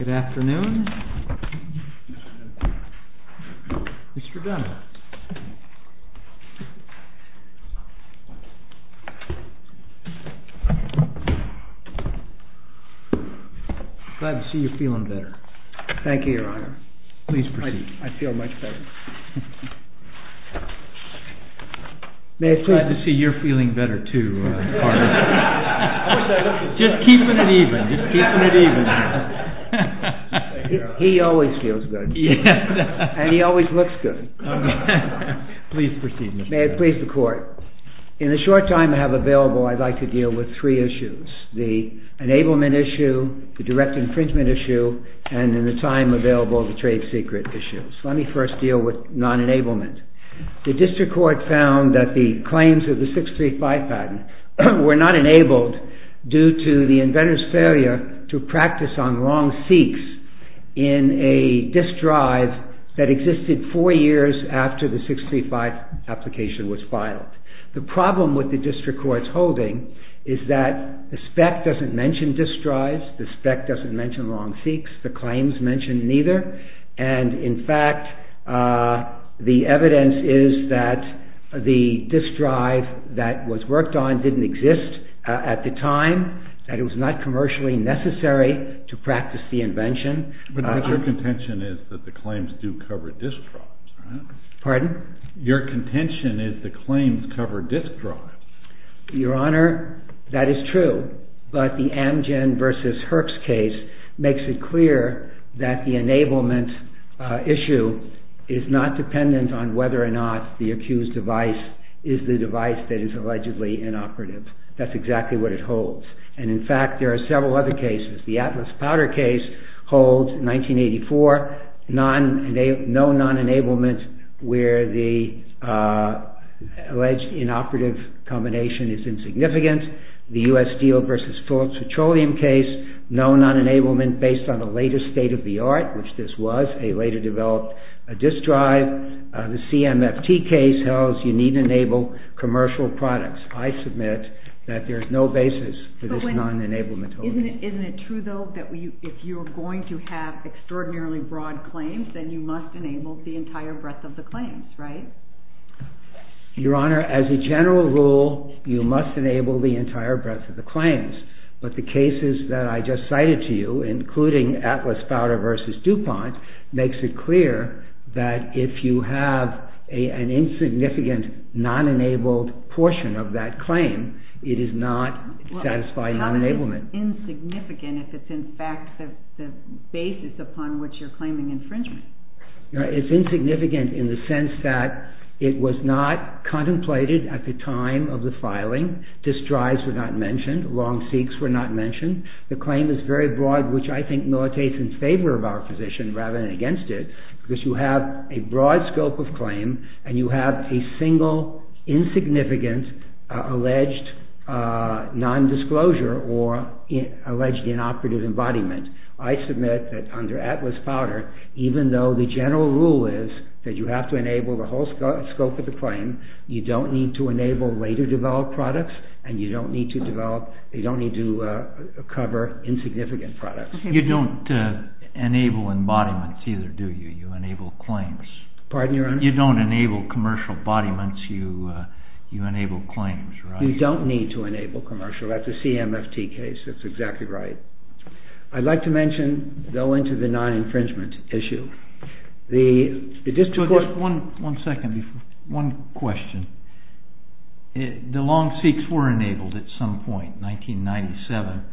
Good afternoon. Mr. Dunlap, I'm glad to see you're feeling better. Thank you, Your Honor. Please proceed. I feel much better. I'm glad to see you're feeling better too, Carter. Just keeping it even. He always feels good. And he always looks good. Please proceed. May it please the Court. In the short time I have available, I'd like to deal with three issues. The enablement issue, the direct infringement issue, and in the time available, the trade secret issue. Let me first deal with non-enablement. The district court found that the claims of the 635 patent were not enabled due to the inventor's failure to practice on wrong seeks in a disk drive that existed four years after the 635 application was filed. The problem with the district court's holding is that the spec doesn't mention disk drives, the spec doesn't mention wrong seeks, the claims mention neither. And, in fact, the evidence is that the disk drive that was worked on didn't exist at the time, that it was not commercially necessary to practice the invention. But your contention is that the claims do cover disk drives, right? Pardon? Your contention is the claims cover disk drives. Your Honor, that is true. But the Amgen v. Herbst case makes it clear that the enablement issue is not dependent on whether or not the accused device is the device that is allegedly inoperative. That's exactly what it holds. And, in fact, there are several other cases. The Atlas Powder case holds, 1984, no non-enablement where the alleged inoperative combination is insignificant. The U.S. Steel v. Phillips Petroleum case, no non-enablement based on a later state of the art, which this was, a later developed disk drive. The CMFT case holds you need to enable commercial products. I submit that there's no basis for this non-enablement. Isn't it true, though, that if you're going to have extraordinarily broad claims, then you must enable the entire breadth of the claims, right? Your Honor, as a general rule, you must enable the entire breadth of the claims. But the cases that I just cited to you, including Atlas Powder v. DuPont, makes it clear that if you have an insignificant non-enabled portion of that claim, it is not satisfying non-enablement. How is it insignificant if it's, in fact, the basis upon which you're claiming infringement? It's insignificant in the sense that it was not contemplated at the time of the filing. Disk drives were not mentioned. Long seeks were not mentioned. The claim is very broad, which I think militates in favor of our position rather than against it, because you have a broad scope of claim and you have a single insignificant alleged non-disclosure or alleged inoperative embodiment. I submit that under Atlas Powder, even though the general rule is that you have to enable the whole scope of the claim, you don't need to enable later developed products and you don't need to cover insignificant products. You don't enable embodiments either, do you? You enable claims. Pardon, Your Honor? You don't enable commercial embodiments. You enable claims, right? You don't need to enable commercial. That's a CMFT case. That's exactly right. I'd like to mention, though, into the non-infringement issue. One second. One question. The long seeks were enabled at some point, 1997.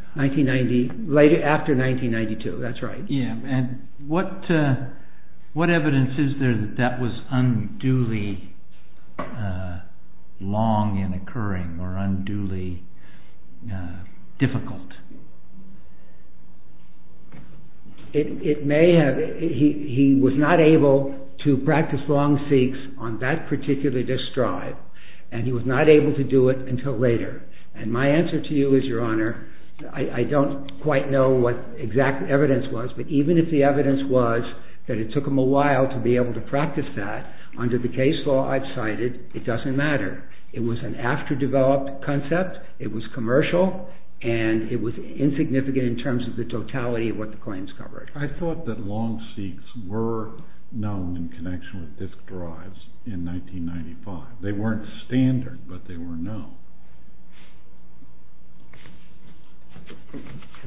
After 1992, that's right. Yeah, and what evidence is there that that was unduly long in occurring or unduly difficult? It may have. He was not able to practice long seeks on that particular distrive, and he was not able to do it until later. And my answer to you is, Your Honor, I don't quite know what exact evidence was, but even if the evidence was that it took him a while to be able to practice that, under the case law I've cited, it doesn't matter. It was an after-developed concept. It was commercial, and it was insignificant in terms of the totality of what the claims covered. I thought that long seeks were known in connection with disk drives in 1995. They weren't standard, but they were known.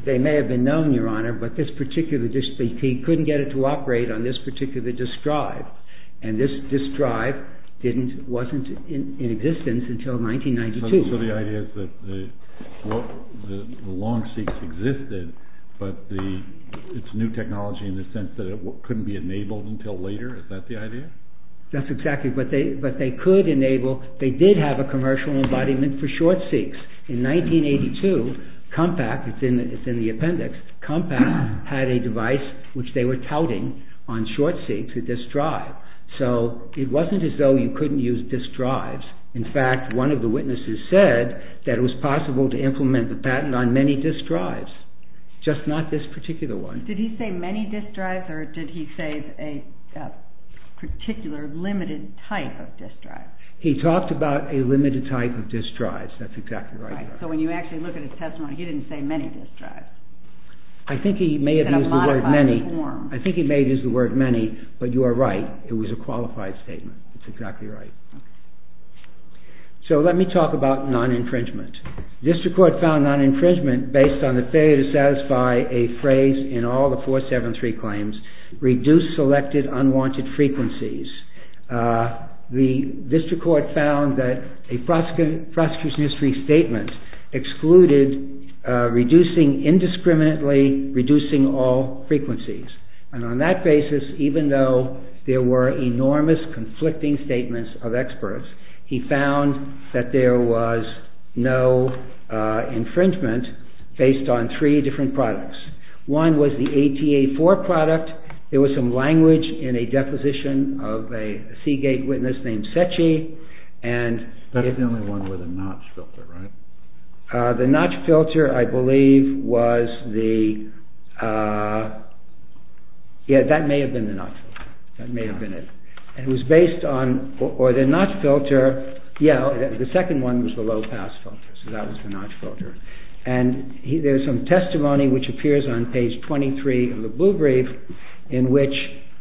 They may have been known, Your Honor, but he couldn't get it to operate on this particular disk drive, and this disk drive wasn't in existence until 1992. So the idea is that the long seeks existed, but it's new technology in the sense that it couldn't be enabled until later? Is that the idea? That's exactly, but they could enable, they did have a commercial embodiment for short seeks. In 1982, Compaq, it's in the appendix, Compaq had a device which they were touting on short seeks, a disk drive. So it wasn't as though you couldn't use disk drives. In fact, one of the witnesses said that it was possible to implement the patent on many disk drives, just not this particular one. Did he say many disk drives, or did he say a particular limited type of disk drive? He talked about a limited type of disk drives, that's exactly right. So when you actually look at his testimony, he didn't say many disk drives. I think he may have used the word many, but you are right, it was a qualified statement, that's exactly right. So let me talk about non-infringement. The district court found non-infringement based on the failure to satisfy a phrase in all the 473 claims, reduce selected unwanted frequencies. The district court found that a prosecution history statement excluded reducing indiscriminately, reducing all frequencies. And on that basis, even though there were enormous conflicting statements of experts, he found that there was no infringement based on three different products. One was the ATA-4 product, there was some language in a deposition of a Seagate witness named Setchy. That's the only one with a notch filter, right? The notch filter, I believe, was the... Yeah, that may have been the notch filter, that may have been it. It was based on... or the notch filter, yeah, the second one was the low pass filter, so that was the notch filter. And there's some testimony which appears on page 23 of the blue brief, in which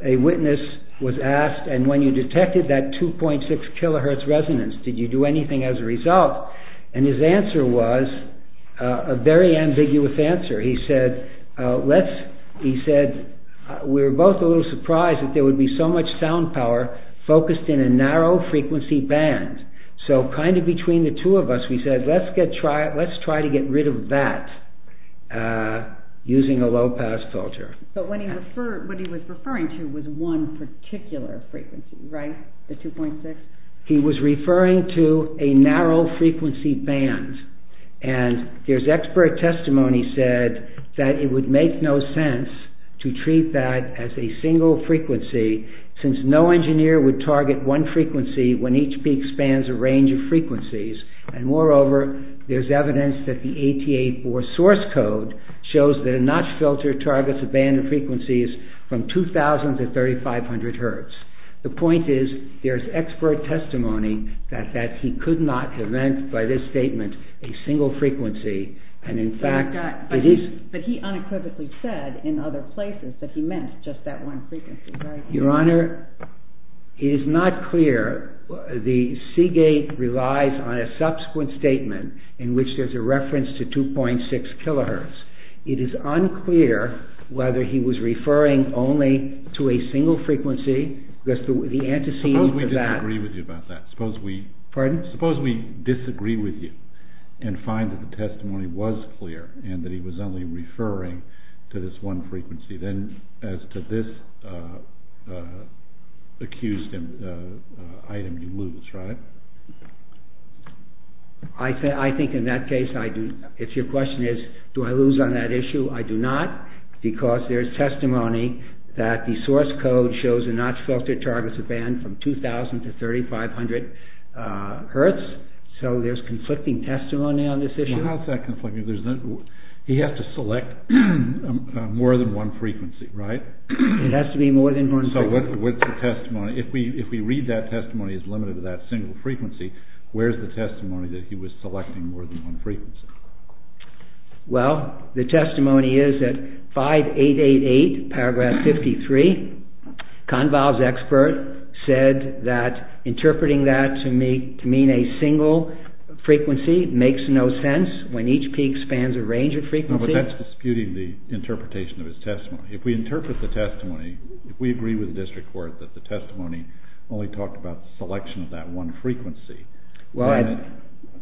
a witness was asked, and when you detected that 2.6 kHz resonance, did you do anything as a result? And his answer was a very ambiguous answer. He said, we were both a little surprised that there would be so much sound power focused in a narrow frequency band. So, kind of between the two of us, we said, let's try to get rid of that using a low pass filter. But what he was referring to was one particular frequency, right? The 2.6? He was referring to a narrow frequency band. And there's expert testimony said that it would make no sense to treat that as a single frequency, since no engineer would target one frequency when each peak spans a range of frequencies. And moreover, there's evidence that the ATA-4 source code shows that a notch filter targets a band of frequencies from 2000 to 3500 Hz. The point is, there's expert testimony that he could not have meant by this statement a single frequency. But he unequivocally said in other places that he meant just that one frequency, right? Your Honor, it is not clear. The Seagate relies on a subsequent statement in which there's a reference to 2.6 kHz. It is unclear whether he was referring only to a single frequency. Suppose we disagree with you about that. Suppose we disagree with you and find that the testimony was clear and that he was only referring to this one frequency. Then, as to this accused item, you lose, right? I think in that case, if your question is, do I lose on that issue, I do not. Because there's testimony that the source code shows a notch filter targets a band from 2000 to 3500 Hz. So there's conflicting testimony on this issue. How is that conflicting? He has to select more than one frequency, right? It has to be more than one frequency. So what's the testimony? If we read that testimony as limited to that single frequency, where's the testimony that he was selecting more than one frequency? Well, the testimony is that 5888, paragraph 53, Conval's expert said that interpreting that to mean a single frequency makes no sense when each peak spans a range of frequency. But that's disputing the interpretation of his testimony. If we interpret the testimony, if we agree with the district court that the testimony only talked about the selection of that one frequency... Well,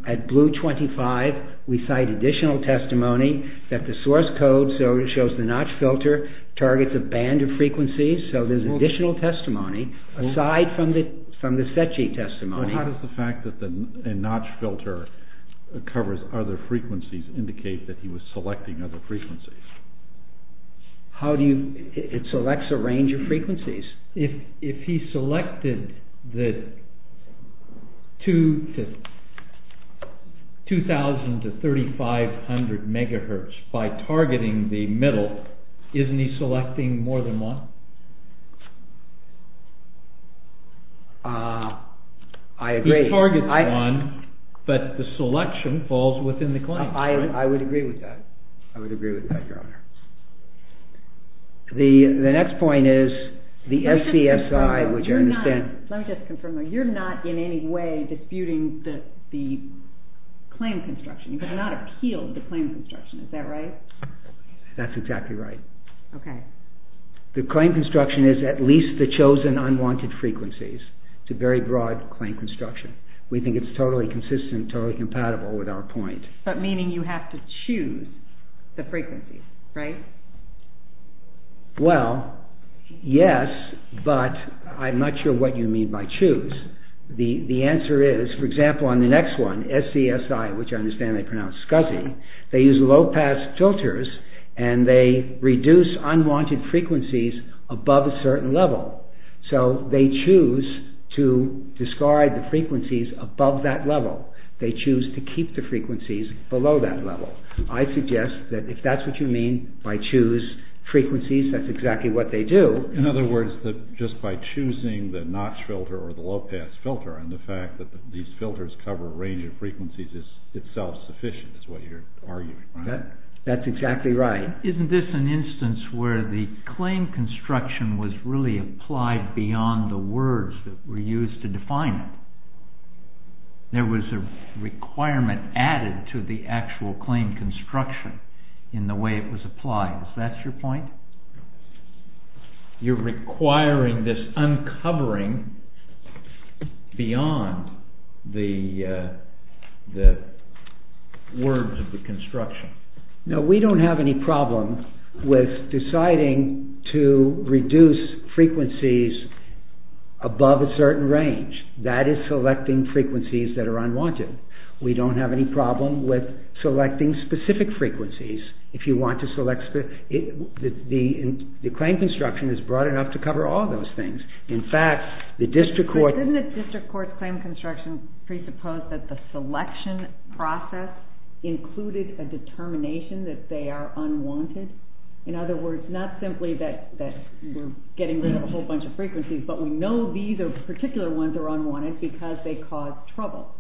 at blue 25, we cite additional testimony that the source code shows the notch filter targets a band of frequencies. So there's additional testimony aside from the set sheet testimony. How does the fact that the notch filter covers other frequencies indicate that he was selecting other frequencies? It selects a range of frequencies. If he selected 2000 to 3500 MHz by targeting the middle, isn't he selecting more than one? I agree. He targets one, but the selection falls within the claim. I would agree with that. I would agree with that, Your Honor. The next point is the SCSI... Let me just confirm though, you're not in any way disputing the claim construction. You have not appealed the claim construction. Is that right? That's exactly right. Okay. The claim construction is at least the chosen unwanted frequencies. It's a very broad claim construction. We think it's totally consistent, totally compatible with our point. But meaning you have to choose the frequencies, right? Well, yes, but I'm not sure what you mean by choose. The answer is, for example, on the next one, SCSI, which I understand they pronounce SCSI, they use low-pass filters and they reduce unwanted frequencies above a certain level. So they choose to discard the frequencies above that level. They choose to keep the frequencies below that level. I suggest that if that's what you mean by choose frequencies, that's exactly what they do. In other words, just by choosing the notch filter or the low-pass filter, and the fact that these filters cover a range of frequencies is itself sufficient, is what you're arguing. That's exactly right. Isn't this an instance where the claim construction was really applied beyond the words that were used to define it? There was a requirement added to the actual claim construction in the way it was applied. Is that your point? You're requiring this uncovering beyond the words of the construction. No, we don't have any problem with deciding to reduce frequencies above a certain range. That is selecting frequencies that are unwanted. We don't have any problem with selecting specific frequencies. The claim construction is broad enough to cover all those things. But didn't the district court's claim construction presuppose that the selection process included a determination that they are unwanted? In other words, not simply that we're getting rid of a whole bunch of frequencies, but we know these particular ones are unwanted because they cause trouble.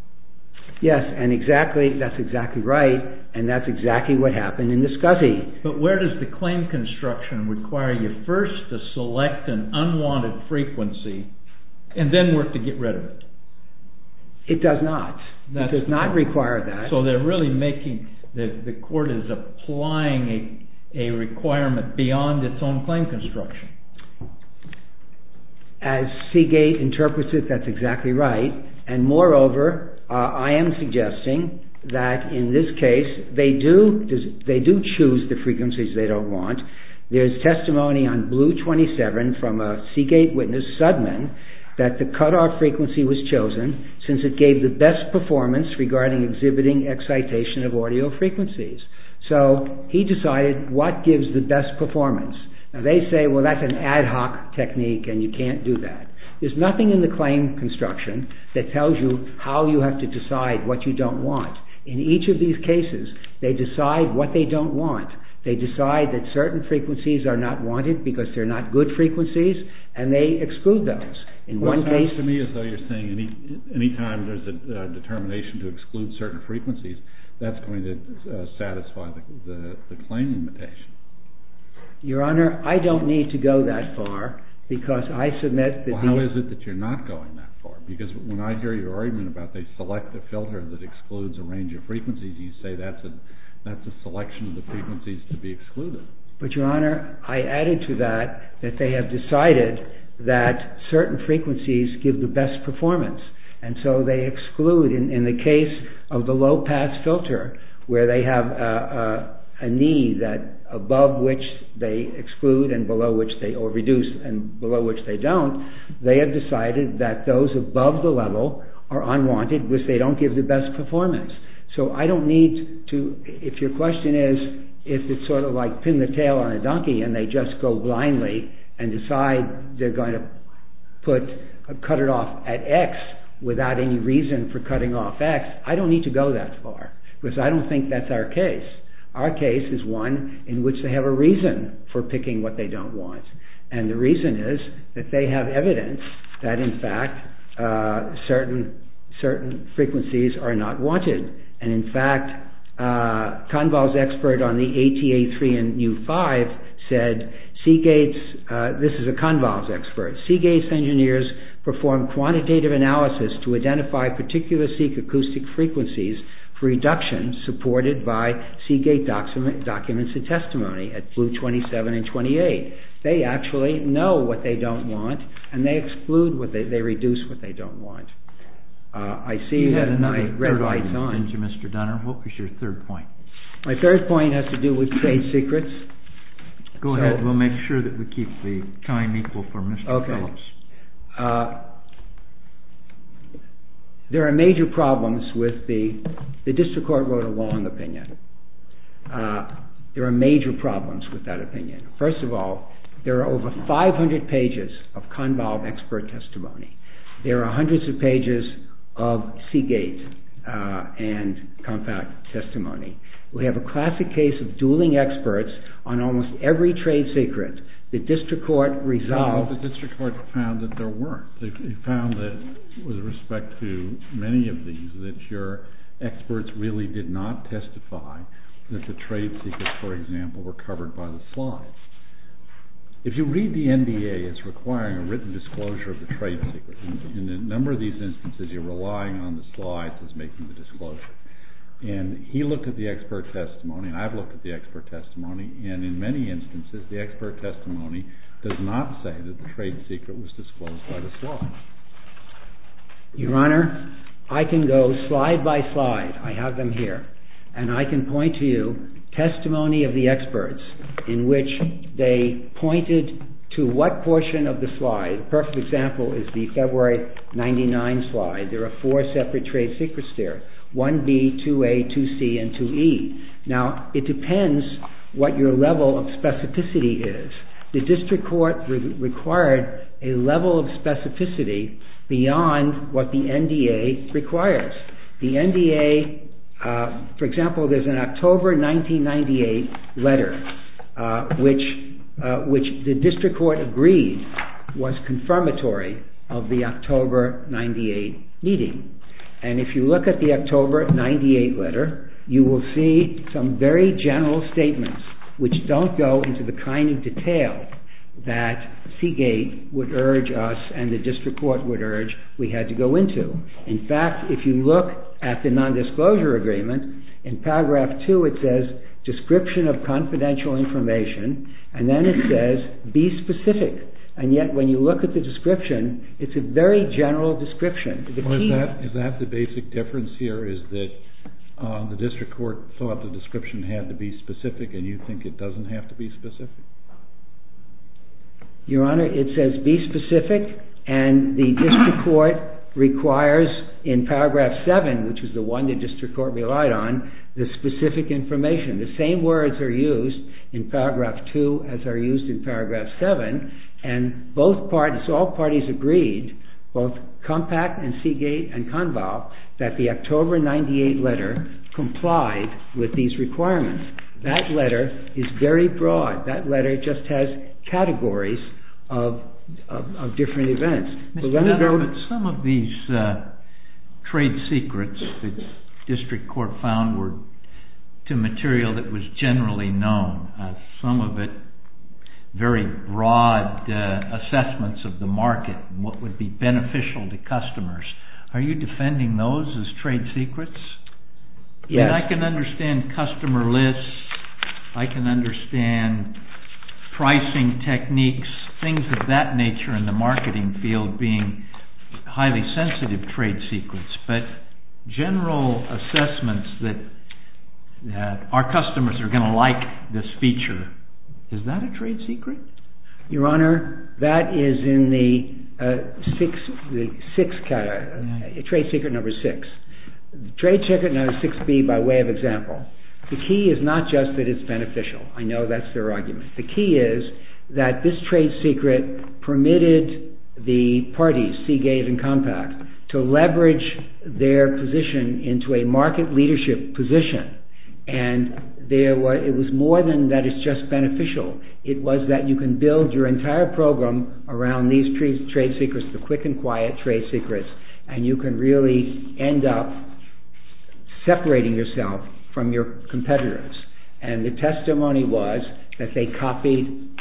Yes, and that's exactly right, and that's exactly what happened in the SCSI. But where does the claim construction require you first to select an unwanted frequency and then work to get rid of it? It does not. It does not require that. So they're really making, the court is applying a requirement beyond its own claim construction. As Seagate interprets it, that's exactly right. And moreover, I am suggesting that in this case they do choose the frequencies they don't want. There's testimony on blue 27 from a Seagate witness, Sudman, that the cutoff frequency was chosen since it gave the best performance regarding exhibiting excitation of audio frequencies. So he decided what gives the best performance. Now they say, well, that's an ad hoc technique and you can't do that. There's nothing in the claim construction that tells you how you have to decide what you don't want. In each of these cases, they decide what they don't want. They decide that certain frequencies are not wanted because they're not good frequencies, and they exclude those. It sounds to me as though you're saying any time there's a determination to exclude certain frequencies, that's going to satisfy the claim limitation. Your Honor, I don't need to go that far because I submit that the... Well, how is it that you're not going that far? Because when I hear your argument about they select a filter that excludes a range of frequencies, you say that's a selection of the frequencies to be excluded. But, Your Honor, I added to that that they have decided that certain frequencies give the best performance. And so they exclude. In the case of the low-pass filter, where they have a need that above which they exclude and below which they... or reduce and below which they don't, they have decided that those above the level are unwanted because they don't give the best performance. So I don't need to... If your question is if it's sort of like pin the tail on a donkey and they just go blindly and decide they're going to cut it off at X without any reason for cutting off X, I don't need to go that far because I don't think that's our case. Our case is one in which they have a reason for picking what they don't want. And the reason is that they have evidence that in fact certain frequencies are not wanted. And in fact, Kahnwald's expert on the ATA3 and U5 said, Seagate's... this is a Kahnwald's expert, Seagate's engineers perform quantitative analysis to identify particular seq acoustic frequencies for reduction supported by Seagate documents and testimony at blue 27 and 28. They actually know what they don't want and they exclude what they... they reduce what they don't want. I see you have a red light on. Mr. Donner, what was your third point? My third point has to do with trade secrets. Go ahead. We'll make sure that we keep the time equal for Mr. Phillips. Okay. There are major problems with the... the district court wrote a long opinion. There are major problems with that opinion. First of all, there are over 500 pages of Kahnwald expert testimony. There are hundreds of pages of Seagate and compact testimony. We have a classic case of dueling experts on almost every trade secret. The district court resolved... But the district court found that there weren't. They found that with respect to many of these that your experts really did not testify that the trade secrets, for example, were covered by the slides. If you read the NDA, it's requiring a written disclosure of the trade secret. In a number of these instances, you're relying on the slides as making the disclosure. And he looked at the expert testimony and I've looked at the expert testimony and in many instances, the expert testimony does not say that the trade secret was disclosed by the slides. Your Honor, I can go slide by slide. I have them here. And I can point to you testimony of the experts in which they pointed to what portion of the slide. The perfect example is the February 1999 slide. There are four separate trade secrets there. 1B, 2A, 2C, and 2E. Now, it depends what your level of specificity is. The district court required a level of specificity beyond what the NDA requires. The NDA, for example, there's an October 1998 letter, which the district court agreed was confirmatory of the October 1998 meeting. And if you look at the October 1998 letter, you will see some very general statements which don't go into the kind of detail that Seagate would urge us and the district court would urge we had to go into. In fact, if you look at the nondisclosure agreement, in paragraph two it says description of confidential information and then it says be specific. And yet when you look at the description, it's a very general description. Is that the basic difference here? Is that the district court thought the description had to be specific and you think it doesn't have to be specific? Your Honor, it says be specific and the district court requires in paragraph seven, which is the one the district court relied on, the specific information. The same words are used in paragraph two as are used in paragraph seven and both parties, all parties agreed, both Compact and Seagate and Conval, that the October 1998 letter complied with these requirements. That letter is very broad. That letter just has categories of different events. But some of these trade secrets that the district court found were to material that was generally known, some of it very broad assessments of the market, what would be beneficial to customers. Are you defending those as trade secrets? Yes. I can understand customer lists. I can understand pricing techniques, things of that nature in the marketing field being highly sensitive trade secrets. But general assessments that our customers are going to like this feature, is that a trade secret? Your Honor, that is in the trade secret number six. The trade secret number six be by way of example. The key is not just that it's beneficial. I know that's their argument. The key is that this trade secret permitted the parties, Seagate and Compact, to leverage their position into a market leadership position and it was more than that it's just beneficial. It was that you can build your entire program around these trade secrets, the quick and quiet trade secrets and you can really end up separating yourself from your competitors. And the testimony was that they copied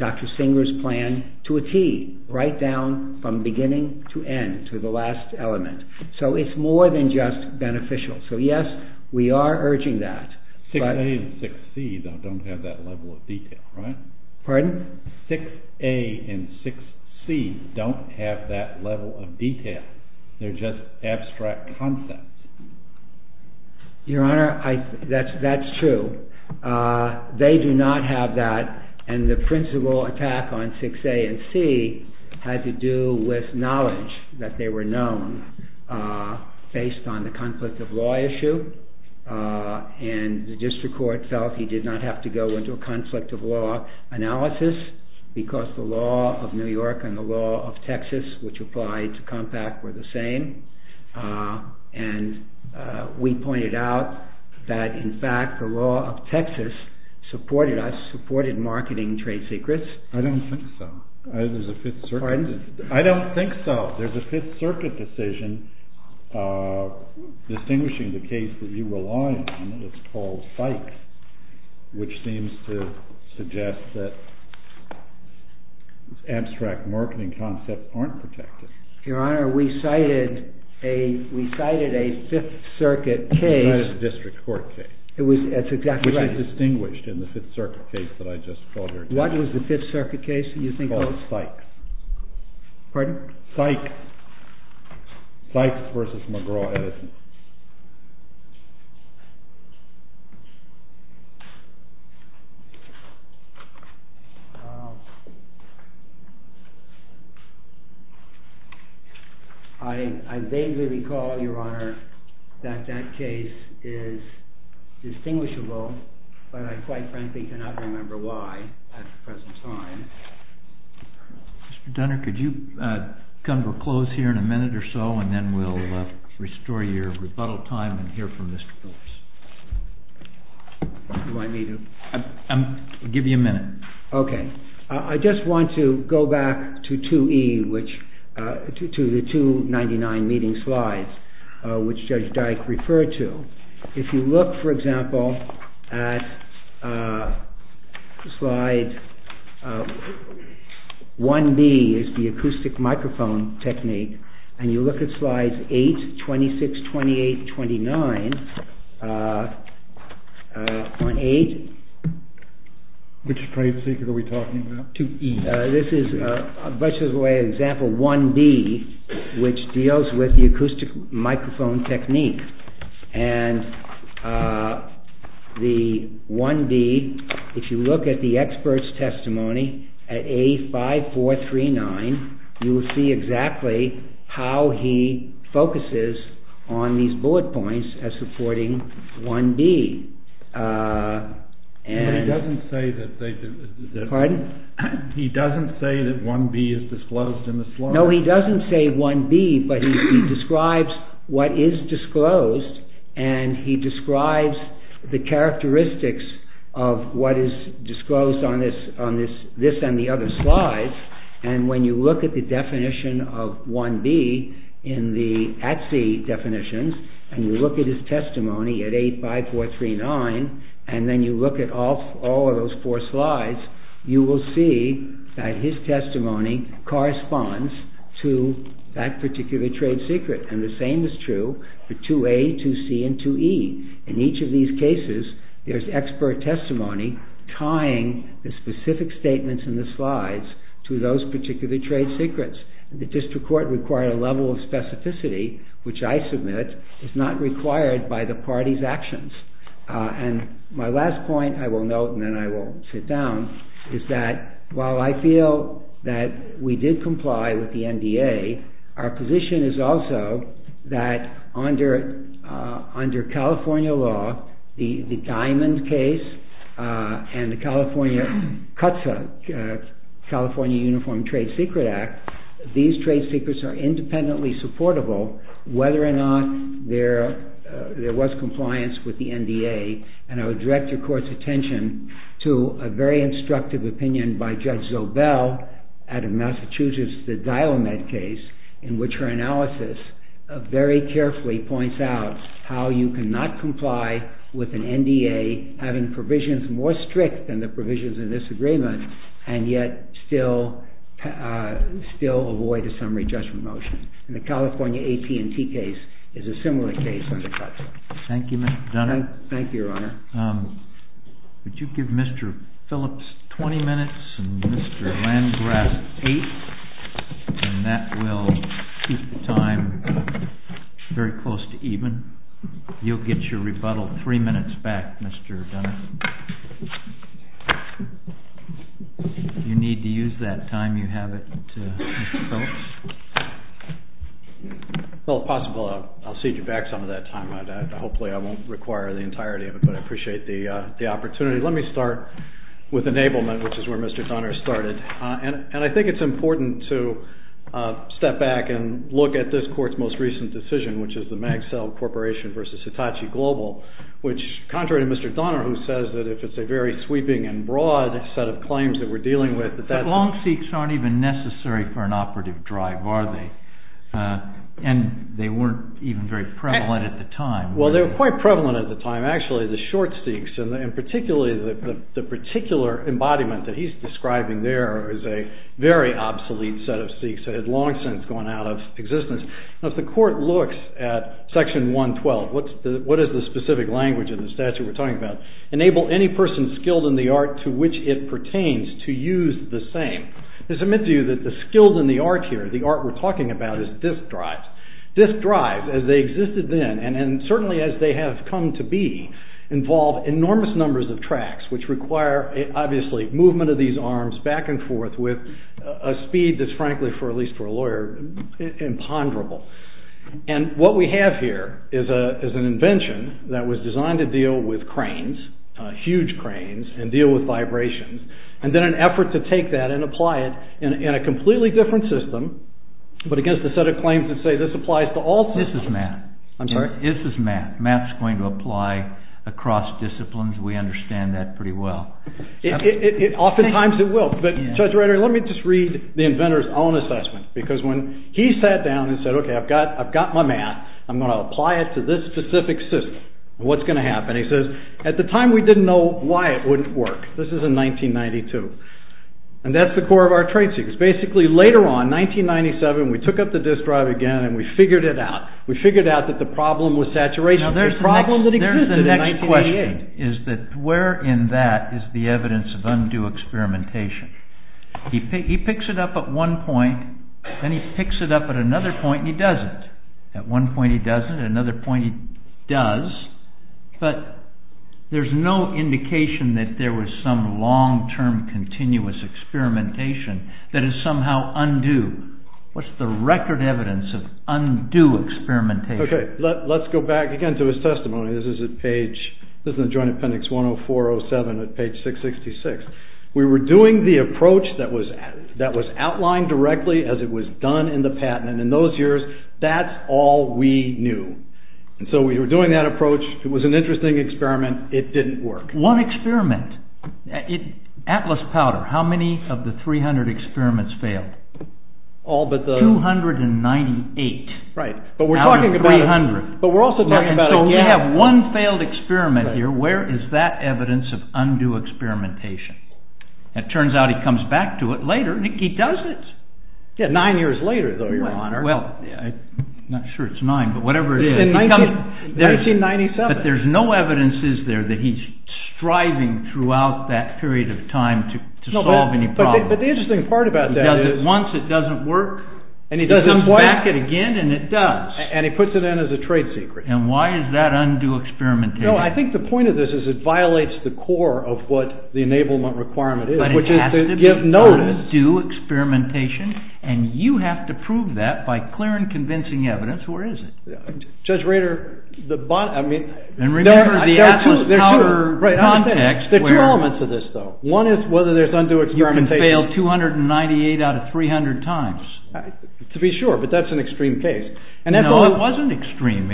Dr. Singer's plan to a T, right down from beginning to end, to the last element. So it's more than just beneficial. So yes, we are urging that. 6A and 6C don't have that level of detail, right? Pardon? 6A and 6C don't have that level of detail. They're just abstract concepts. Your Honor, that's true. They do not have that and the principal attack on 6A and C had to do with knowledge that they were known based on the conflict of law issue and the district court felt he did not have to go into a conflict of law analysis because the law of New York and the law of Texas, which applied to Compact, were the same. And we pointed out that in fact the law of Texas supported us, supported marketing trade secrets. I don't think so. Pardon? I don't think so. There's a Fifth Circuit decision distinguishing the case that you rely on and it's called Sykes, which seems to suggest that abstract marketing concepts aren't protected. Your Honor, we cited a Fifth Circuit case. It's not a district court case. That's exactly right. Which is distinguished in the Fifth Circuit case that I just called. What was the Fifth Circuit case that you think was? It's called Sykes. Pardon? Sykes versus McGraw-Edison. I vaguely recall, Your Honor, that that case is distinguishable, but I quite frankly cannot remember why at the present time. Mr. Dunner, could you come to a close here in a minute or so and then we'll restore your rebuttal time and hear from Mr. Phillips. You want me to? I'll give you a minute. Okay. I just want to go back to 2E, to the 299 meeting slides, which Judge Dyke referred to. If you look, for example, at slide 1B, which is the acoustic microphone technique, and you look at slides 8, 26, 28, 29, Which phrase are we talking about? 2E. This is, by way of example, 1B, which deals with the acoustic microphone technique. And the 1B, if you look at the expert's testimony, at A5, 4, 3, 9, you will see exactly how he focuses on these bullet points as supporting 1B. But he doesn't say that 1B is disclosed in the slide. No, he doesn't say 1B, but he describes what is disclosed and he describes the characteristics of what is disclosed on this and the other slides. And when you look at the definition of 1B in the ATSI definitions, and you look at his testimony at A5, 4, 3, 9, and then you look at all of those four slides, you will see that his testimony corresponds to that particular trade secret. And the same is true for 2A, 2C, and 2E. In each of these cases, there's expert testimony tying the specific statements in the slides to those particular trade secrets. The district court required a level of specificity, which I submit is not required by the party's actions. And my last point, I will note and then I will sit down, is that while I feel that we did comply with the NDA, our position is also that under California law, the Diamond case and the California CUTSA, California Uniform Trade Secret Act, these trade secrets are independently supportable whether or not there was compliance with the NDA. And I would direct your court's attention to a very instructive opinion by Judge Zobel out of Massachusetts, the Diomed case, in which her analysis very carefully points out how you cannot comply with an NDA having provisions more strict than the provisions in this agreement, and yet still avoid a summary judgment motion. And the California AT&T case is a similar case under CUTSA. Thank you, Mr. Dunnett. Thank you, Your Honor. Would you give Mr. Phillips 20 minutes and Mr. Landgrass eight? And that will keep the time very close to even. You'll get your rebuttal three minutes back, Mr. Dunnett. You need to use that time you have it, Mr. Phillips. Well, if possible, I'll cede you back some of that time. Hopefully, I won't require the entirety of it, but I appreciate the opportunity. Let me start with enablement, which is where Mr. Dunnett started. And I think it's important to step back and look at this court's most recent decision, which is the Magsell Corporation v. Hitachi Global, which, contrary to Mr. Dunnett, who says that if it's a very sweeping and broad set of claims that we're dealing with, that that's... But long seeks aren't even necessary for an operative drive, are they? And they weren't even very prevalent at the time. Well, they were quite prevalent at the time. Actually, the short seeks, and particularly the particular embodiment that he's describing there is a very obsolete set of seeks that had long since gone out of existence. Now, if the court looks at Section 112, what is the specific language in the statute we're talking about? Enable any person skilled in the art to which it pertains to use the same. I submit to you that the skilled in the art here, the art we're talking about, is disc drives. Disc drives, as they existed then, and certainly as they have come to be, involve enormous numbers of tracks, which require, obviously, movement of these arms back and forth with a speed that's, frankly, at least for a lawyer, imponderable. And what we have here is an invention that was designed to deal with cranes, huge cranes, and deal with vibrations, and then an effort to take that and apply it in a completely different system, but against a set of claims that say this applies to all systems. This is math. I'm sorry? This is math. Math's going to apply across disciplines. We understand that pretty well. Oftentimes, it will. But, Judge Reiter, let me just read the inventor's own assessment, because when he sat down and said, OK, I've got my math. I'm going to apply it to this specific system. What's going to happen? He says, at the time, we didn't know why it wouldn't work. This is in 1992. And that's the core of our trade secret. Basically, later on, 1997, we took up the disk drive again, and we figured it out. We figured out that the problem was saturation. Now, there's the next question. Where in that is the evidence of undue experimentation? He picks it up at one point, then he picks it up at another point, and he does it. At one point, he does it. At another point, he does. But there's no indication that there was some long-term, continuous experimentation that is somehow undue. What's the record evidence of undue experimentation? OK, let's go back again to his testimony. This is in the Joint Appendix 10407 at page 666. We were doing the approach that was outlined directly as it was done in the patent, and in those years, that's all we knew. And so we were doing that approach. It was an interesting experiment. It didn't work. One experiment. Atlas Powder. How many of the 300 experiments failed? All but the... 298 out of 300. Right. But we're talking about... But we're also talking about... We have one failed experiment here. Where is that evidence of undue experimentation? It turns out he comes back to it later. He does it. Nine years later, though, Your Honor. Well, I'm not sure it's nine, but whatever it is... In 1997. But there's no evidence, is there, that he's striving throughout that period of time to solve any problem. But the interesting part about that is... He does it once, it doesn't work. And he comes back at it again, and it does. And he puts it in as a trade secret. And why is that undue experimentation? No, I think the point of this is it violates the core of what the enablement requirement is, which is to give notice. But it has to be undue experimentation, and you have to prove that by clear and convincing evidence. Where is it? Judge Rader, the... And remember the Atlas Tower context... There are two elements of this, though. One is whether there's undue experimentation. You can fail 298 out of 300 times. To be sure, but that's an extreme case. No, it wasn't extreme.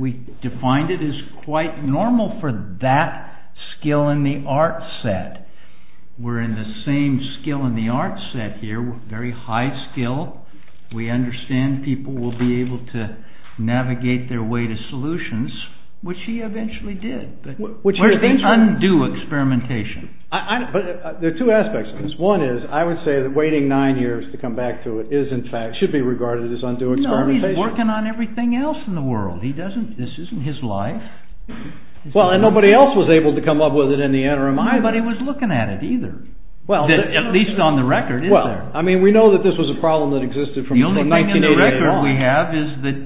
We defined it as quite normal for that skill in the art set. We're in the same skill in the art set here, very high skill. We understand people will be able to navigate their way to solutions, which he eventually did. Where's the undue experimentation? But there are two aspects of this. One is, I would say that waiting nine years to come back to it should be regarded as undue experimentation. No, he's working on everything else in the world. This isn't his life. Well, and nobody else was able to come up with it in the interim. Nobody was looking at it either, at least on the record, is there? I mean, we know that this was a problem that existed from... The only thing on the record we have is that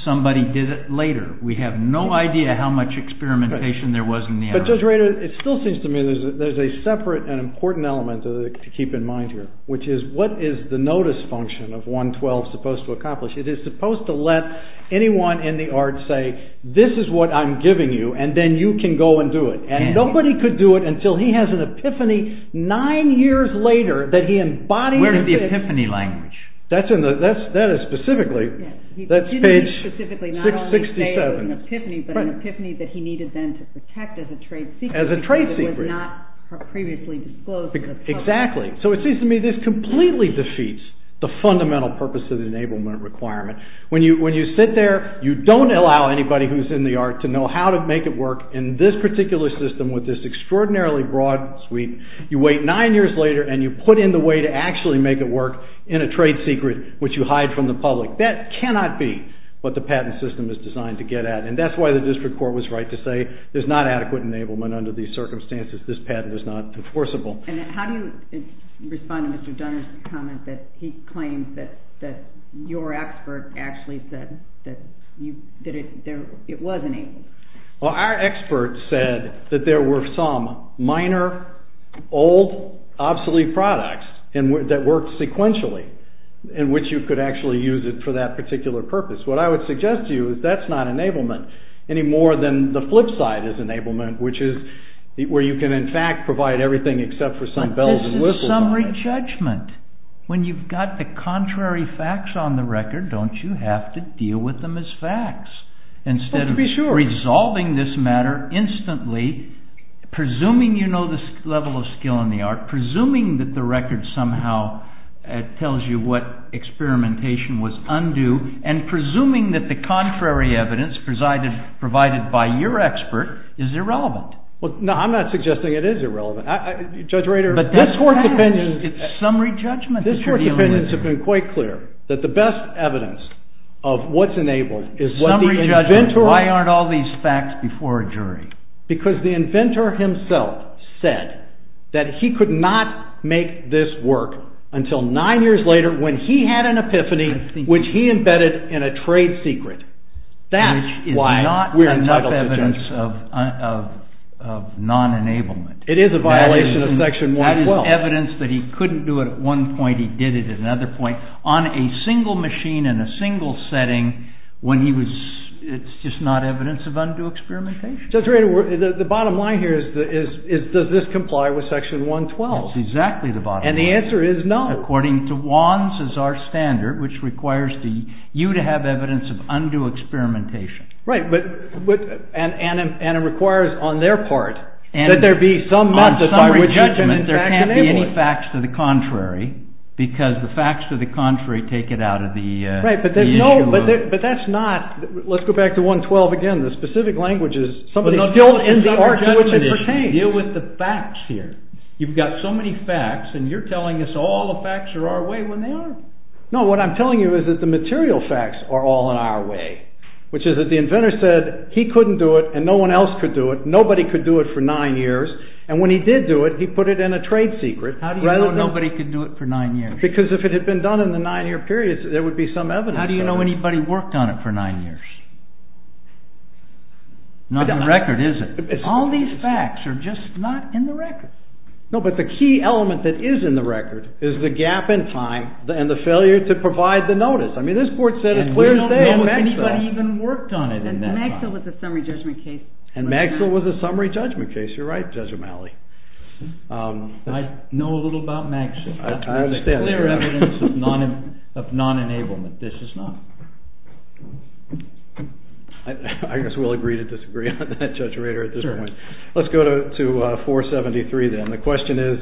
somebody did it later. We have no idea how much experimentation there was in the effort. But Judge Rader, it still seems to me there's a separate and important element to keep in mind here, which is what is the notice function of 112 supposed to accomplish? It is supposed to let anyone in the art say, this is what I'm giving you, and then you can go and do it. And nobody could do it until he has an epiphany nine years later that he embodies... Where is the epiphany language? That is specifically, that's page 667. He didn't specifically not only say an epiphany, but an epiphany that he needed then to protect as a trade secret. As a trade secret. Because it was not previously disclosed to the public. Exactly. So it seems to me this completely defeats the fundamental purpose of the enablement requirement. When you sit there, you don't allow anybody who's in the art to know how to make it work in this particular system with this extraordinarily broad suite. You wait nine years later, and you put in the way to actually make it work in a trade secret, which you hide from the public. That cannot be what the patent system is designed to get at. And that's why the district court was right to say there's not adequate enablement under these circumstances. This patent is not enforceable. And how do you respond to Mr. Dunner's comment that he claims that your expert actually said that it was enabled? Well, our expert said that there were some minor, old, obsolete products that worked sequentially, in which you could actually use it for that particular purpose. What I would suggest to you is that's not enablement any more than the flip side is enablement, which is where you can in fact provide everything except for some bells and whistles. But this is summary judgment. When you've got the contrary facts on the record, don't you have to deal with them as facts? Well, to be sure. Instead of resolving this matter instantly, presuming you know the level of skill in the art, presuming that the record somehow tells you what experimentation was undue, and presuming that the contrary evidence provided by your expert is irrelevant. Well, no, I'm not suggesting it is irrelevant. Judge Rader, this Court's opinion... But that's summary judgment. This Court's opinions have been quite clear that the best evidence of what's enabled is summary judgment. Why aren't all these facts before a jury? Because the inventor himself said that he could not make this work until nine years later when he had an epiphany which he embedded in a trade secret. That's why we're entitled to judgment. Which is not enough evidence of non-enablement. It is a violation of Section 112. That is evidence that he couldn't do it at one point, he did it at another point. On a single machine in a single setting, when he was... It's just not evidence of undue experimentation. Judge Rader, the bottom line here is does this comply with Section 112? That's exactly the bottom line. And the answer is no. According to Wands as our standard, which requires you to have evidence of undue experimentation. Right, but... And it requires on their part that there be summary judgment. On summary judgment, there can't be any facts to the contrary because the facts to the contrary take it out of the... Right, but there's no... But that's not... Let's go back to 112 again. The specific language is... Somebody's built in the art to which it pertains. Deal with the facts here. You've got so many facts and you're telling us all the facts are our way when they are. No, what I'm telling you is that the material facts are all in our way. Which is that the inventor said he couldn't do it and no one else could do it. Nobody could do it for nine years. And when he did do it, he put it in a trade secret. How do you know nobody could do it for nine years? Because if it had been done in the nine year period, there would be some evidence. How do you know anybody worked on it for nine years? Not in the record, is it? All these facts are just not in the record. No, but the key element that is in the record is the gap in time and the failure to provide the notice. I mean, this court said it's clear as day. And we don't know if anybody even worked on it in that time. And Magsell was a summary judgment case. And Magsell was a summary judgment case. You're right, Judge O'Malley. I know a little about Magsell. I understand. This is clear evidence of non-enablement. This is not. I guess we'll agree to disagree on that, Judge Rader, at this point. Let's go to 473 then. The question is,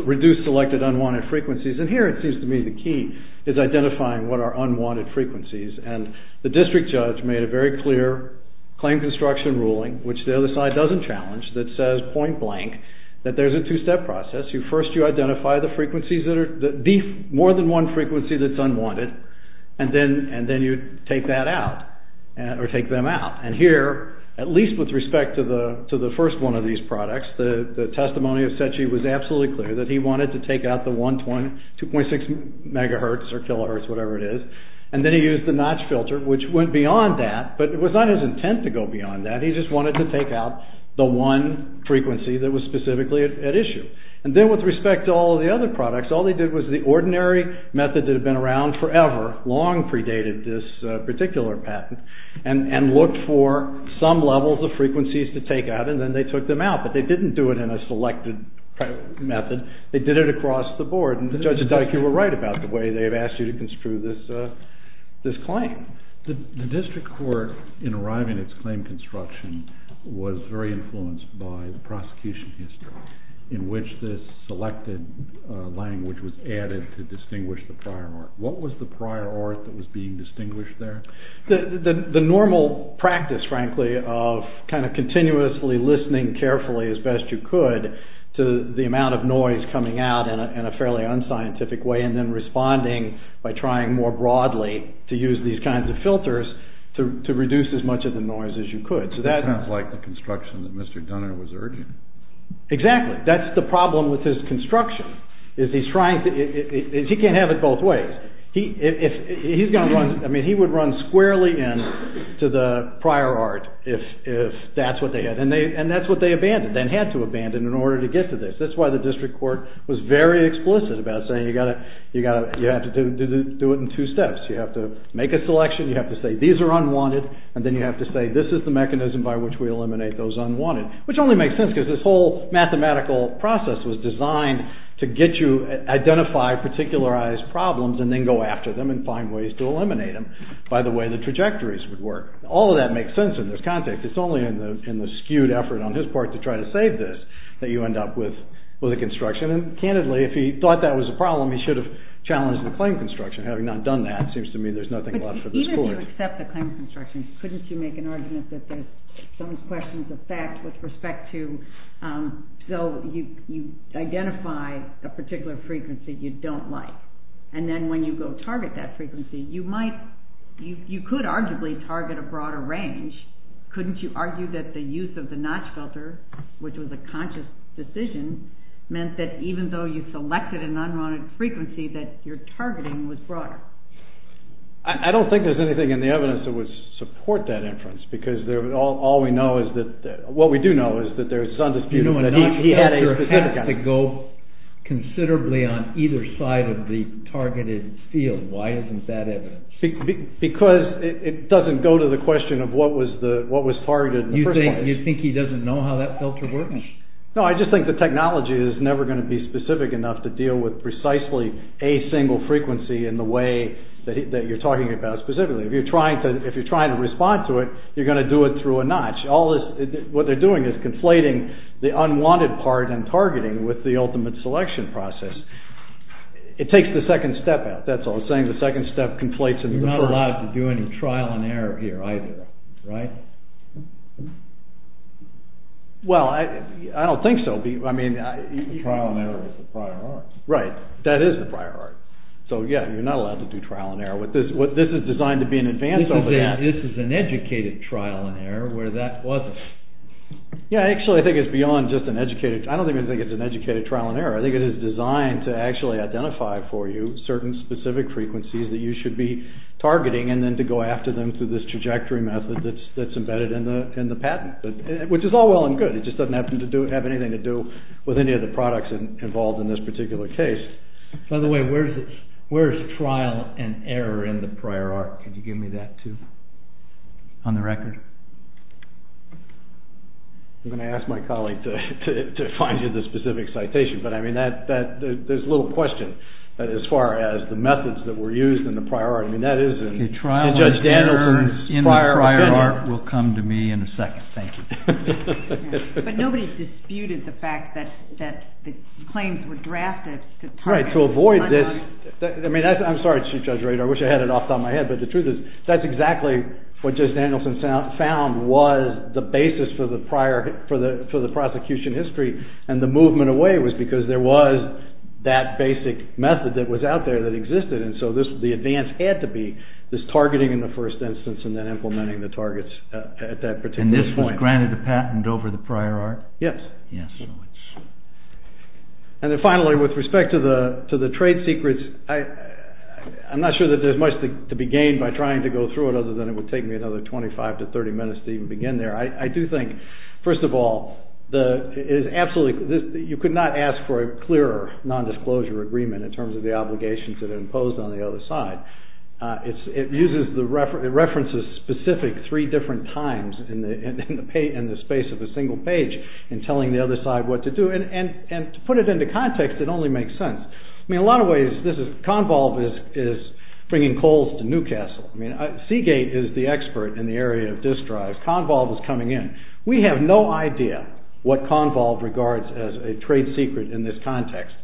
reduce selected unwanted frequencies. And here it seems to me the key is identifying what are unwanted frequencies. And the district judge made a very clear claim construction ruling, which the other side doesn't challenge, that says point blank that there's a two-step process. First, you identify the frequencies, more than one frequency that's unwanted. And then you take that out, or take them out. And here, at least with respect to the first one of these products, the testimony of Cechi was absolutely clear that he wanted to take out the 1.6 megahertz or kilohertz, whatever it is. And then he used the notch filter, which went beyond that. But it was not his intent to go beyond that. He just wanted to take out the one frequency that was specifically at issue. And then with respect to all of the other products, all they did was the ordinary method that had been around forever, long predated this particular patent, and looked for some levels of frequencies to take out, and then they took them out. But they didn't do it in a selected method. They did it across the board. And Judge Dike, you were right about the way they've asked you to construe this claim. The district court, in arriving at its claim construction, was very influenced by the prosecution history, in which this selected language was added to distinguish the prior art. What was the prior art that was being distinguished there? The normal practice, frankly, of kind of continuously listening carefully as best you could to the amount of noise coming out in a fairly unscientific way, and then responding by trying more broadly to use these kinds of filters to reduce as much of the noise as you could. That sounds like the construction that Mr. Dunner was urging. Exactly. That's the problem with his construction. He can't have it both ways. He would run squarely in to the prior art if that's what they had, and that's what they abandoned, then had to abandon in order to get to this. That's why the district court was very explicit about saying you have to do it in two steps. You have to make a selection, you have to say these are unwanted, and then you have to say this is the mechanism by which we eliminate those unwanted, which only makes sense because this whole mathematical process was designed to get you, identify particularized problems and then go after them and find ways to eliminate them by the way the trajectories would work. All of that makes sense in this context. It's only in the skewed effort on his part to try to save this that you end up with a construction, and candidly, if he thought that was a problem, he should have challenged the claim construction. Having not done that, it seems to me there's nothing left for the school. Even if you accept the claim construction, couldn't you make an argument that there's some questions of fact with respect to, so you identify a particular frequency you don't like, and then when you go target that frequency, you might, you could arguably target a broader range. Couldn't you argue that the use of the notch filter, which was a conscious decision, meant that even though you selected an unwanted frequency, that your targeting was broader? I don't think there's anything in the evidence that would support that inference because all we know is that what we do know is that there's undisputed... You know, a notch filter has to go considerably on either side of the targeted field. Why isn't that evidence? Because it doesn't go to the question of what was targeted in the first place. You think he doesn't know how that filter works? No, I just think the technology is never going to be specific enough to deal with precisely a single frequency in the way that you're talking about specifically. If you're trying to respond to it, you're going to do it through a notch. What they're doing is conflating the unwanted part and targeting with the ultimate selection process. It takes the second step out, that's all. It's saying the second step conflates into the first. You're not allowed to do any trial and error here either, right? Well, I don't think so. Trial and error is the prior art. Right, that is the prior art. So yeah, you're not allowed to do trial and error. This is designed to be an advance over that. This is an educated trial and error where that wasn't. Yeah, I actually think it's beyond just an educated... I don't even think it's an educated trial and error. I think it is designed to actually identify for you certain specific frequencies that you should be targeting and then to go after them through this trajectory method that's embedded in the patent, which is all well and good. It just doesn't have anything to do with any of the products involved in this particular case. By the way, where's trial and error in the prior art? Can you give me that too? On the record. I'm going to ask my colleague to find you the specific citation. But I mean, there's little question as far as the methods that were used in the prior art. I mean, that is in Judge Danilson's prior opinion. The trial and errors in the prior art will come to me in a second. Thank you. But nobody disputed the fact that the claims were drafted... Right, to avoid this... I mean, I'm sorry, Chief Judge Rader. I wish I had it off the top of my head. But the truth is, that's exactly what Judge Danilson found was the basis for the prosecution history. And the movement away was because there was that basic method that was out there that existed. And so the advance had to be this targeting in the first instance and then implementing the targets at that particular point. And this was granted a patent over the prior art? Yes. And then finally, with respect to the trade secrets, I'm not sure that there's much to be gained by trying to go through it other than it would take me another 25 to 30 minutes to even begin there. I do think, first of all, you could not ask for a clearer nondisclosure agreement in terms of the obligations that are imposed on the other side. It references specific three different times in the space of a single page in telling the other side what to do. And to put it into context, it only makes sense. I mean, in a lot of ways, Convolve is bringing coals to Newcastle. I mean, Seagate is the expert in the area of disk drives. Convolve is coming in. We have no idea what Convolve regards as a trade secret in this context.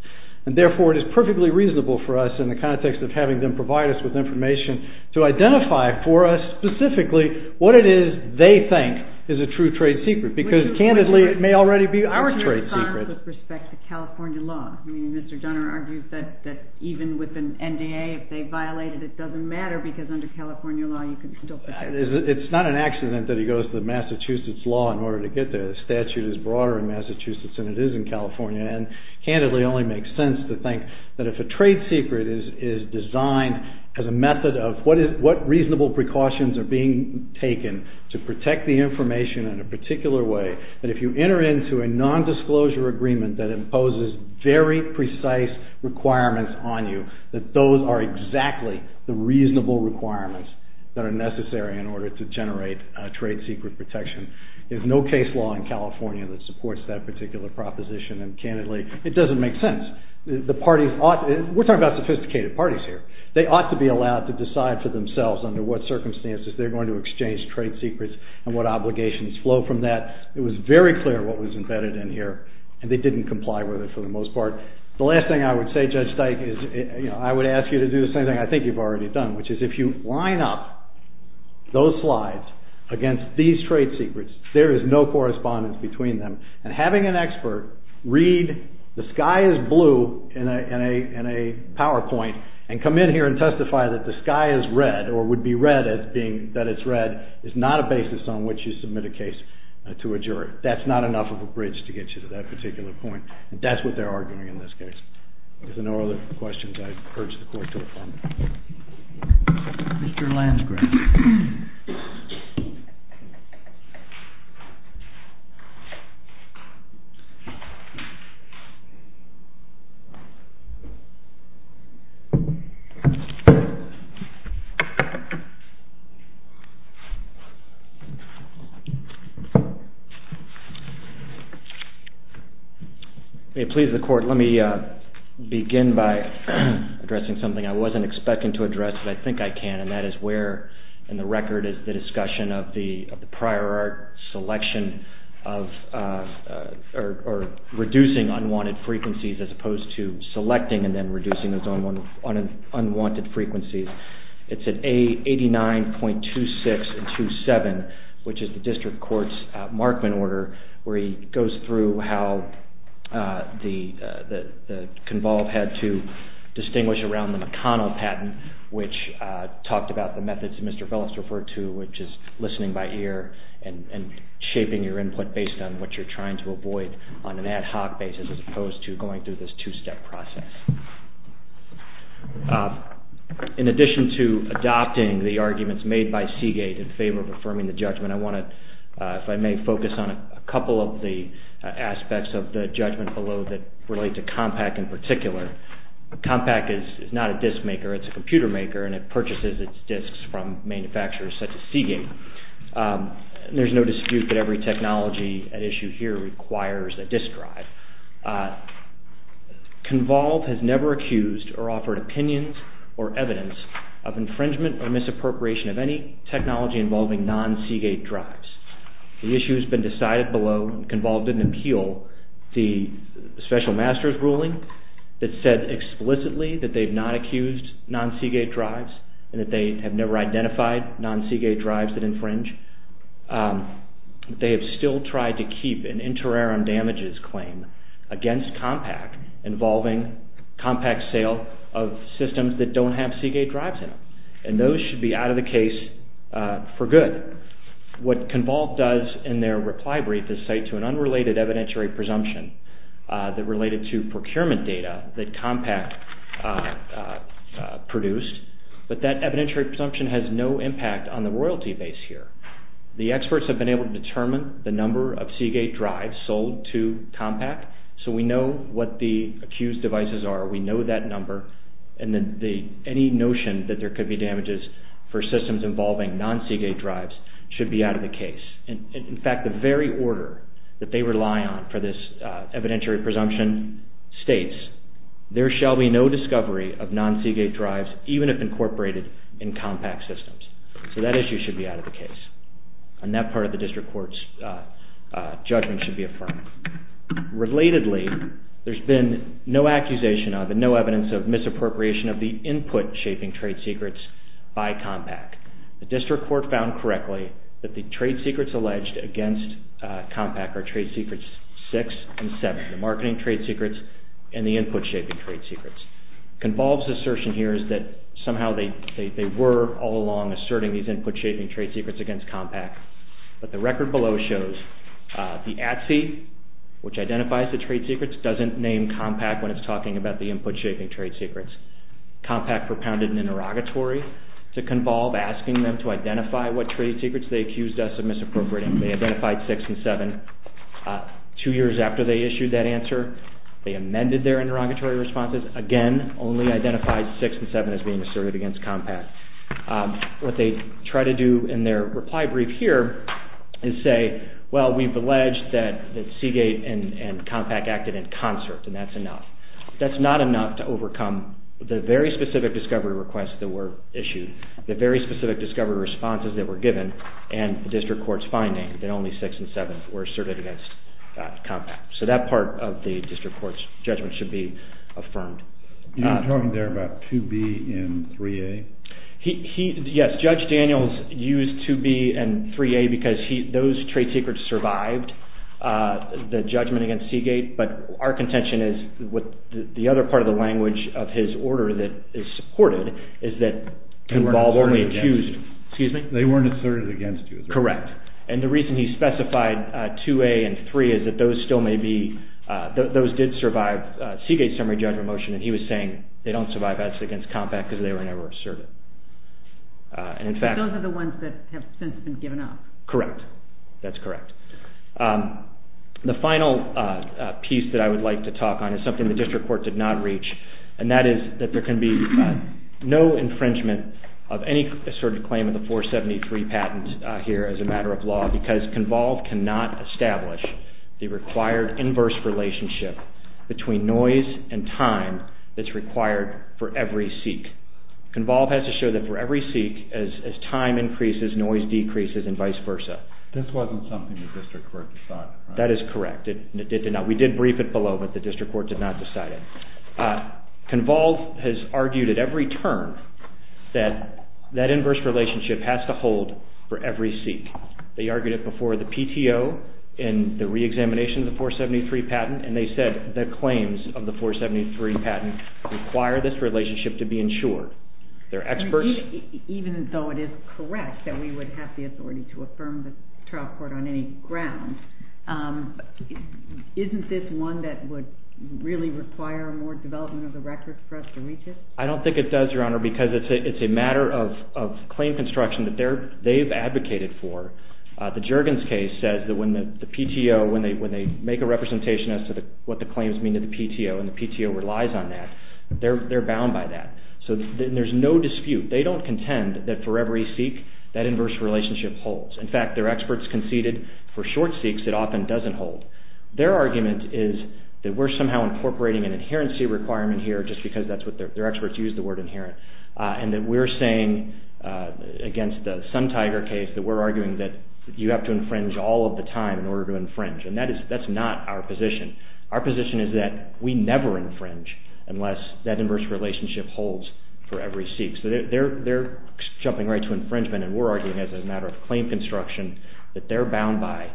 And therefore, it is perfectly reasonable for us, in the context of having them provide us with information, to identify for us specifically what it is they think is a true trade secret. Because, candidly, it may already be our trade secret. With respect to California law, Mr. Donner argues that even with an NDA, if they violate it, it doesn't matter, because under California law, you can still protect it. It's not an accident that he goes to Massachusetts law in order to get there. The statute is broader in Massachusetts than it is in California. And, candidly, it only makes sense to think that if a trade secret is designed as a method of what reasonable precautions are being taken to protect the information in a particular way, that if you enter into a nondisclosure agreement that imposes very precise requirements on you, that those are exactly the reasonable requirements that are necessary in order to generate a trade secret protection. There's no case law in California that supports that particular proposition. And, candidly, it doesn't make sense. The parties ought to... We're talking about sophisticated parties here. They ought to be allowed to decide for themselves under what circumstances they're going to exchange trade secrets and what obligations flow from that. It was very clear what was embedded in here, and they didn't comply with it for the most part. The last thing I would say, Judge Steik, is I would ask you to do the same thing I think you've already done, which is if you line up those slides against these trade secrets, there is no correspondence between them. And having an expert read the sky is blue in a PowerPoint and come in here and testify that the sky is red, or would be red as being that it's red, is not a basis on which you submit a case to a juror. That's not enough of a bridge to get you to that particular point. That's what they're arguing in this case. If there are no other questions, I urge the Court to adjourn. Mr. Lansgraff. May it please the Court, let me begin by addressing something I wasn't expecting to address, but I think I can, and that is where in the record is the discussion of the prior art selection of reducing unwanted frequencies as opposed to selecting and then reducing those unwanted frequencies. It's at 89.2627, which is the District Court's Markman order, where he goes through how Convolve had to distinguish around the McConnell patent, which talked about the methods that Mr. Velas referred to, which is listening by ear and shaping your input based on what you're trying to avoid on an ad hoc basis as opposed to going through this two-step process. In addition to adopting the arguments made by Seagate in favor of affirming the judgment, I want to, if I may, focus on a couple of the aspects of the judgment below that relate to Compaq in particular. Compaq is not a disc maker, it's a computer maker, and it purchases its discs from manufacturers such as Seagate. There's no dispute that every technology at issue here requires a disc drive. Convolve has never accused or offered opinions or evidence of infringement or misappropriation of any technology involving non-Seagate drives. The issue has been decided below. Convolve didn't appeal the special master's ruling that said explicitly that they've not accused non-Seagate drives and that they have never identified non-Seagate drives that infringe. They have still tried to keep an interim damages claim against Compaq involving Compaq's sale of systems that don't have Seagate drives in them, and those should be out of the case for good. What Convolve does in their reply brief is cite to an unrelated evidentiary presumption that related to procurement data that Compaq produced, but that evidentiary presumption has no impact on the royalty base here. The experts have been able to determine the number of Seagate drives sold to Compaq, so we know what the accused devices are. We know that number, and any notion that there could be damages for systems involving non-Seagate drives should be out of the case. In fact, the very order that they rely on for this evidentiary presumption states, there shall be no discovery of non-Seagate drives, even if incorporated in Compaq systems. So that issue should be out of the case, and that part of the district court's judgment should be affirmed. Relatedly, there's been no accusation of and no evidence of misappropriation of the input-shaping trade secrets by Compaq. The district court found correctly that the trade secrets alleged against Compaq are trade secrets 6 and 7, the marketing trade secrets and the input-shaping trade secrets. Convolve's assertion here is that somehow they were all along asserting these input-shaping trade secrets against Compaq, but the record below shows the ATSE, which identifies the trade secrets, doesn't name Compaq when it's talking about the input-shaping trade secrets. Compaq propounded an interrogatory to Convolve, asking them to identify what trade secrets they accused us of misappropriating. They identified 6 and 7. Two years after they issued that answer, they amended their interrogatory responses again, only identified 6 and 7 as being asserted against Compaq. What they try to do in their reply brief here is say, well, we've alleged that Seagate and Compaq acted in concert, and that's enough. That's not enough to overcome the very specific discovery requests that were issued, the very specific discovery responses that were given, and the district court's finding that only 6 and 7 were asserted against Compaq. So that part of the district court's judgment should be affirmed. You're talking there about 2B and 3A? Yes, Judge Daniels used 2B and 3A because those trade secrets survived the judgment against Seagate, but our contention is the other part of the language of his order that is supported is that Convolve only accused... They weren't asserted against you. Correct. And the reason he specified 2A and 3 is that those still may be... Those did survive Seagate's summary judgment motion, and he was saying they don't survive as against Compaq because they were never asserted. Those are the ones that have since been given up. Correct. That's correct. The final piece that I would like to talk on is something the district court did not reach, and that is that there can be no infringement of any asserted claim of the 473 patent here as a matter of law because Convolve cannot establish the required inverse relationship between noise and time that's required for every seek. Convolve has to show that for every seek, as time increases, noise decreases and vice versa. This wasn't something the district court decided. That is correct. We did brief it below, but the district court did not decide it. Convolve has argued at every turn that that inverse relationship has to hold for every seek. They argued it before the PTO in the reexamination of the 473 patent, and they said the claims of the 473 patent require this relationship to be ensured. Even though it is correct that we would have the authority to affirm the trial court on any ground, isn't this one that would really require more development of the records for us to reach it? I don't think it does, Your Honor, because it's a matter of claim construction that they've advocated for. The Juergens case says that when they make a representation as to what the claims mean to the PTO and the PTO relies on that, they're bound by that. So there's no dispute. They don't contend that for every seek, that inverse relationship holds. In fact, their experts conceded for short seeks it often doesn't hold. Their argument is that we're somehow incorporating an adherency requirement here just because that's what their experts use the word inherent, and that we're saying against the Sun Tiger case that we're arguing that you have to infringe all of the time in order to infringe, and that's not our position. Our position is that we never infringe unless that inverse relationship holds for every seek. So they're jumping right to infringement, and we're arguing as a matter of claim construction that they're bound by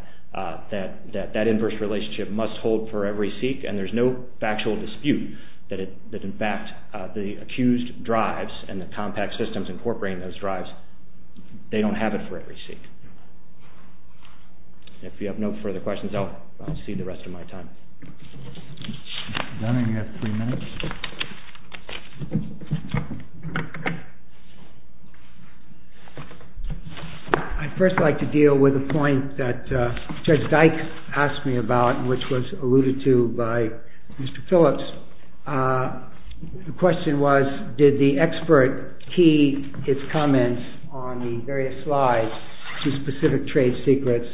that that inverse relationship must hold for every seek, and there's no factual dispute that in fact the accused drives and the compact systems incorporating those drives, they don't have it for every seek. If you have no further questions, I'll cede the rest of my time. Mr. Dunning, you have three minutes. I'd first like to deal with a point that Judge Dykes asked me about, which was alluded to by Mr. Phillips. The question was, did the expert key his comments on the various slides to specific trade secrets?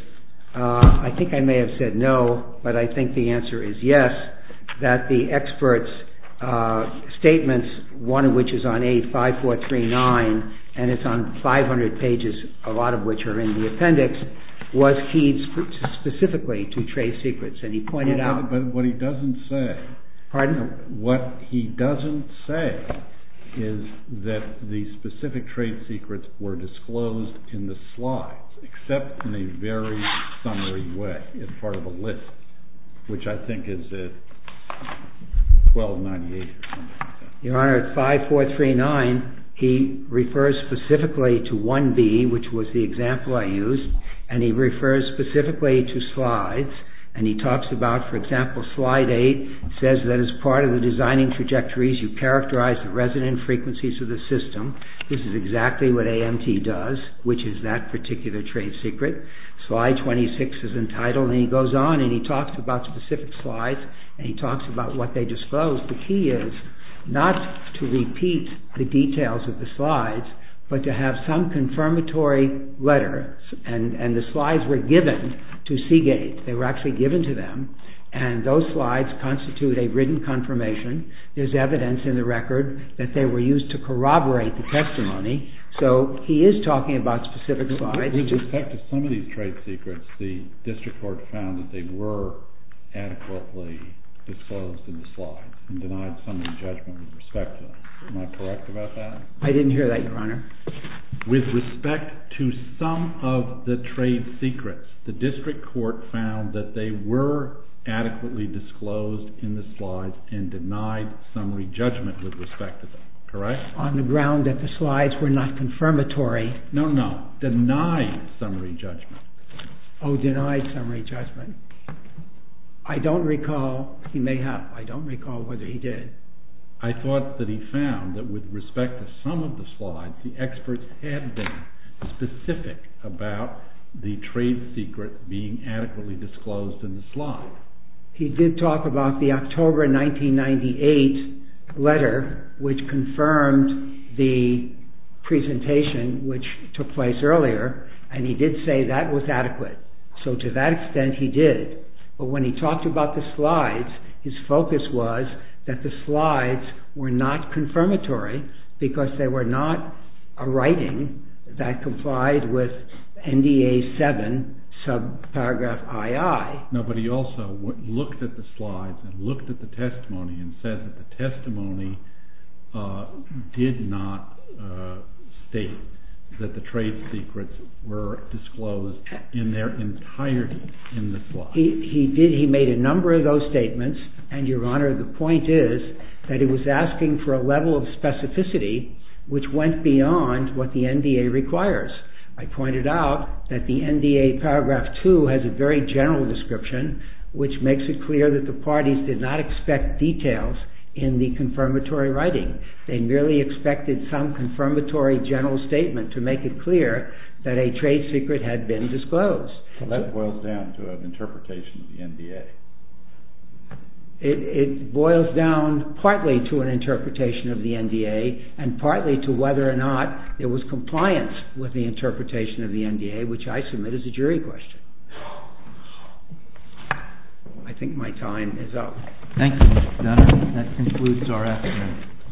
I think I may have said no, but I think the answer is yes, that the expert's statements, one of which is on A5439, and it's on 500 pages, a lot of which are in the appendix, was keyed specifically to trade secrets, and he pointed out- But what he doesn't say- Pardon? It's part of a list, which I think is 1298 or something like that. Your Honor, at 5439, he refers specifically to 1B, which was the example I used, and he refers specifically to slides, and he talks about, for example, slide 8, says that as part of the designing trajectories, you characterize the resonant frequencies of the system. This is exactly what AMT does, which is that particular trade secret. Slide 26 is entitled, and he goes on, and he talks about specific slides, and he talks about what they disclose. The key is not to repeat the details of the slides, but to have some confirmatory letters, and the slides were given to Seagate. They were actually given to them, and those slides constitute a written confirmation. There's evidence in the record that they were used to corroborate the testimony, so he is talking about specific slides. With respect to some of these trade secrets, the district court found that they were adequately disclosed in the slides and denied summary judgment with respect to them. Am I correct about that? I didn't hear that, Your Honor. With respect to some of the trade secrets, the district court found that they were adequately disclosed in the slides and denied summary judgment with respect to them, correct? On the ground that the slides were not confirmatory. No, no. Denied summary judgment. Oh, denied summary judgment. I don't recall. He may have. I don't recall whether he did. I thought that he found that with respect to some of the slides, the experts had been specific about the trade secret being adequately disclosed in the slides. He did talk about the October 1998 letter, which confirmed the presentation which took place earlier, and he did say that was adequate. So to that extent, he did. But when he talked about the slides, his focus was that the slides were not confirmatory because they were not a writing that complied with NDA 7, subparagraph II. No, but he also looked at the slides and looked at the testimony and said that the testimony did not state that the trade secrets were disclosed in their entirety in the slides. He did. He made a number of those statements. And, Your Honor, the point is that he was asking for a level of specificity which went beyond what the NDA requires. I pointed out that the NDA paragraph II has a very general description, which makes it clear that the parties did not expect details in the confirmatory writing. They merely expected some confirmatory general statement to make it clear that a trade secret had been disclosed. So that boils down to an interpretation of the NDA. It boils down partly to an interpretation of the NDA and partly to whether or not there was compliance with the interpretation of the NDA, which I submit is a jury question. I think my time is up. Thank you, Your Honor. That concludes our afternoon.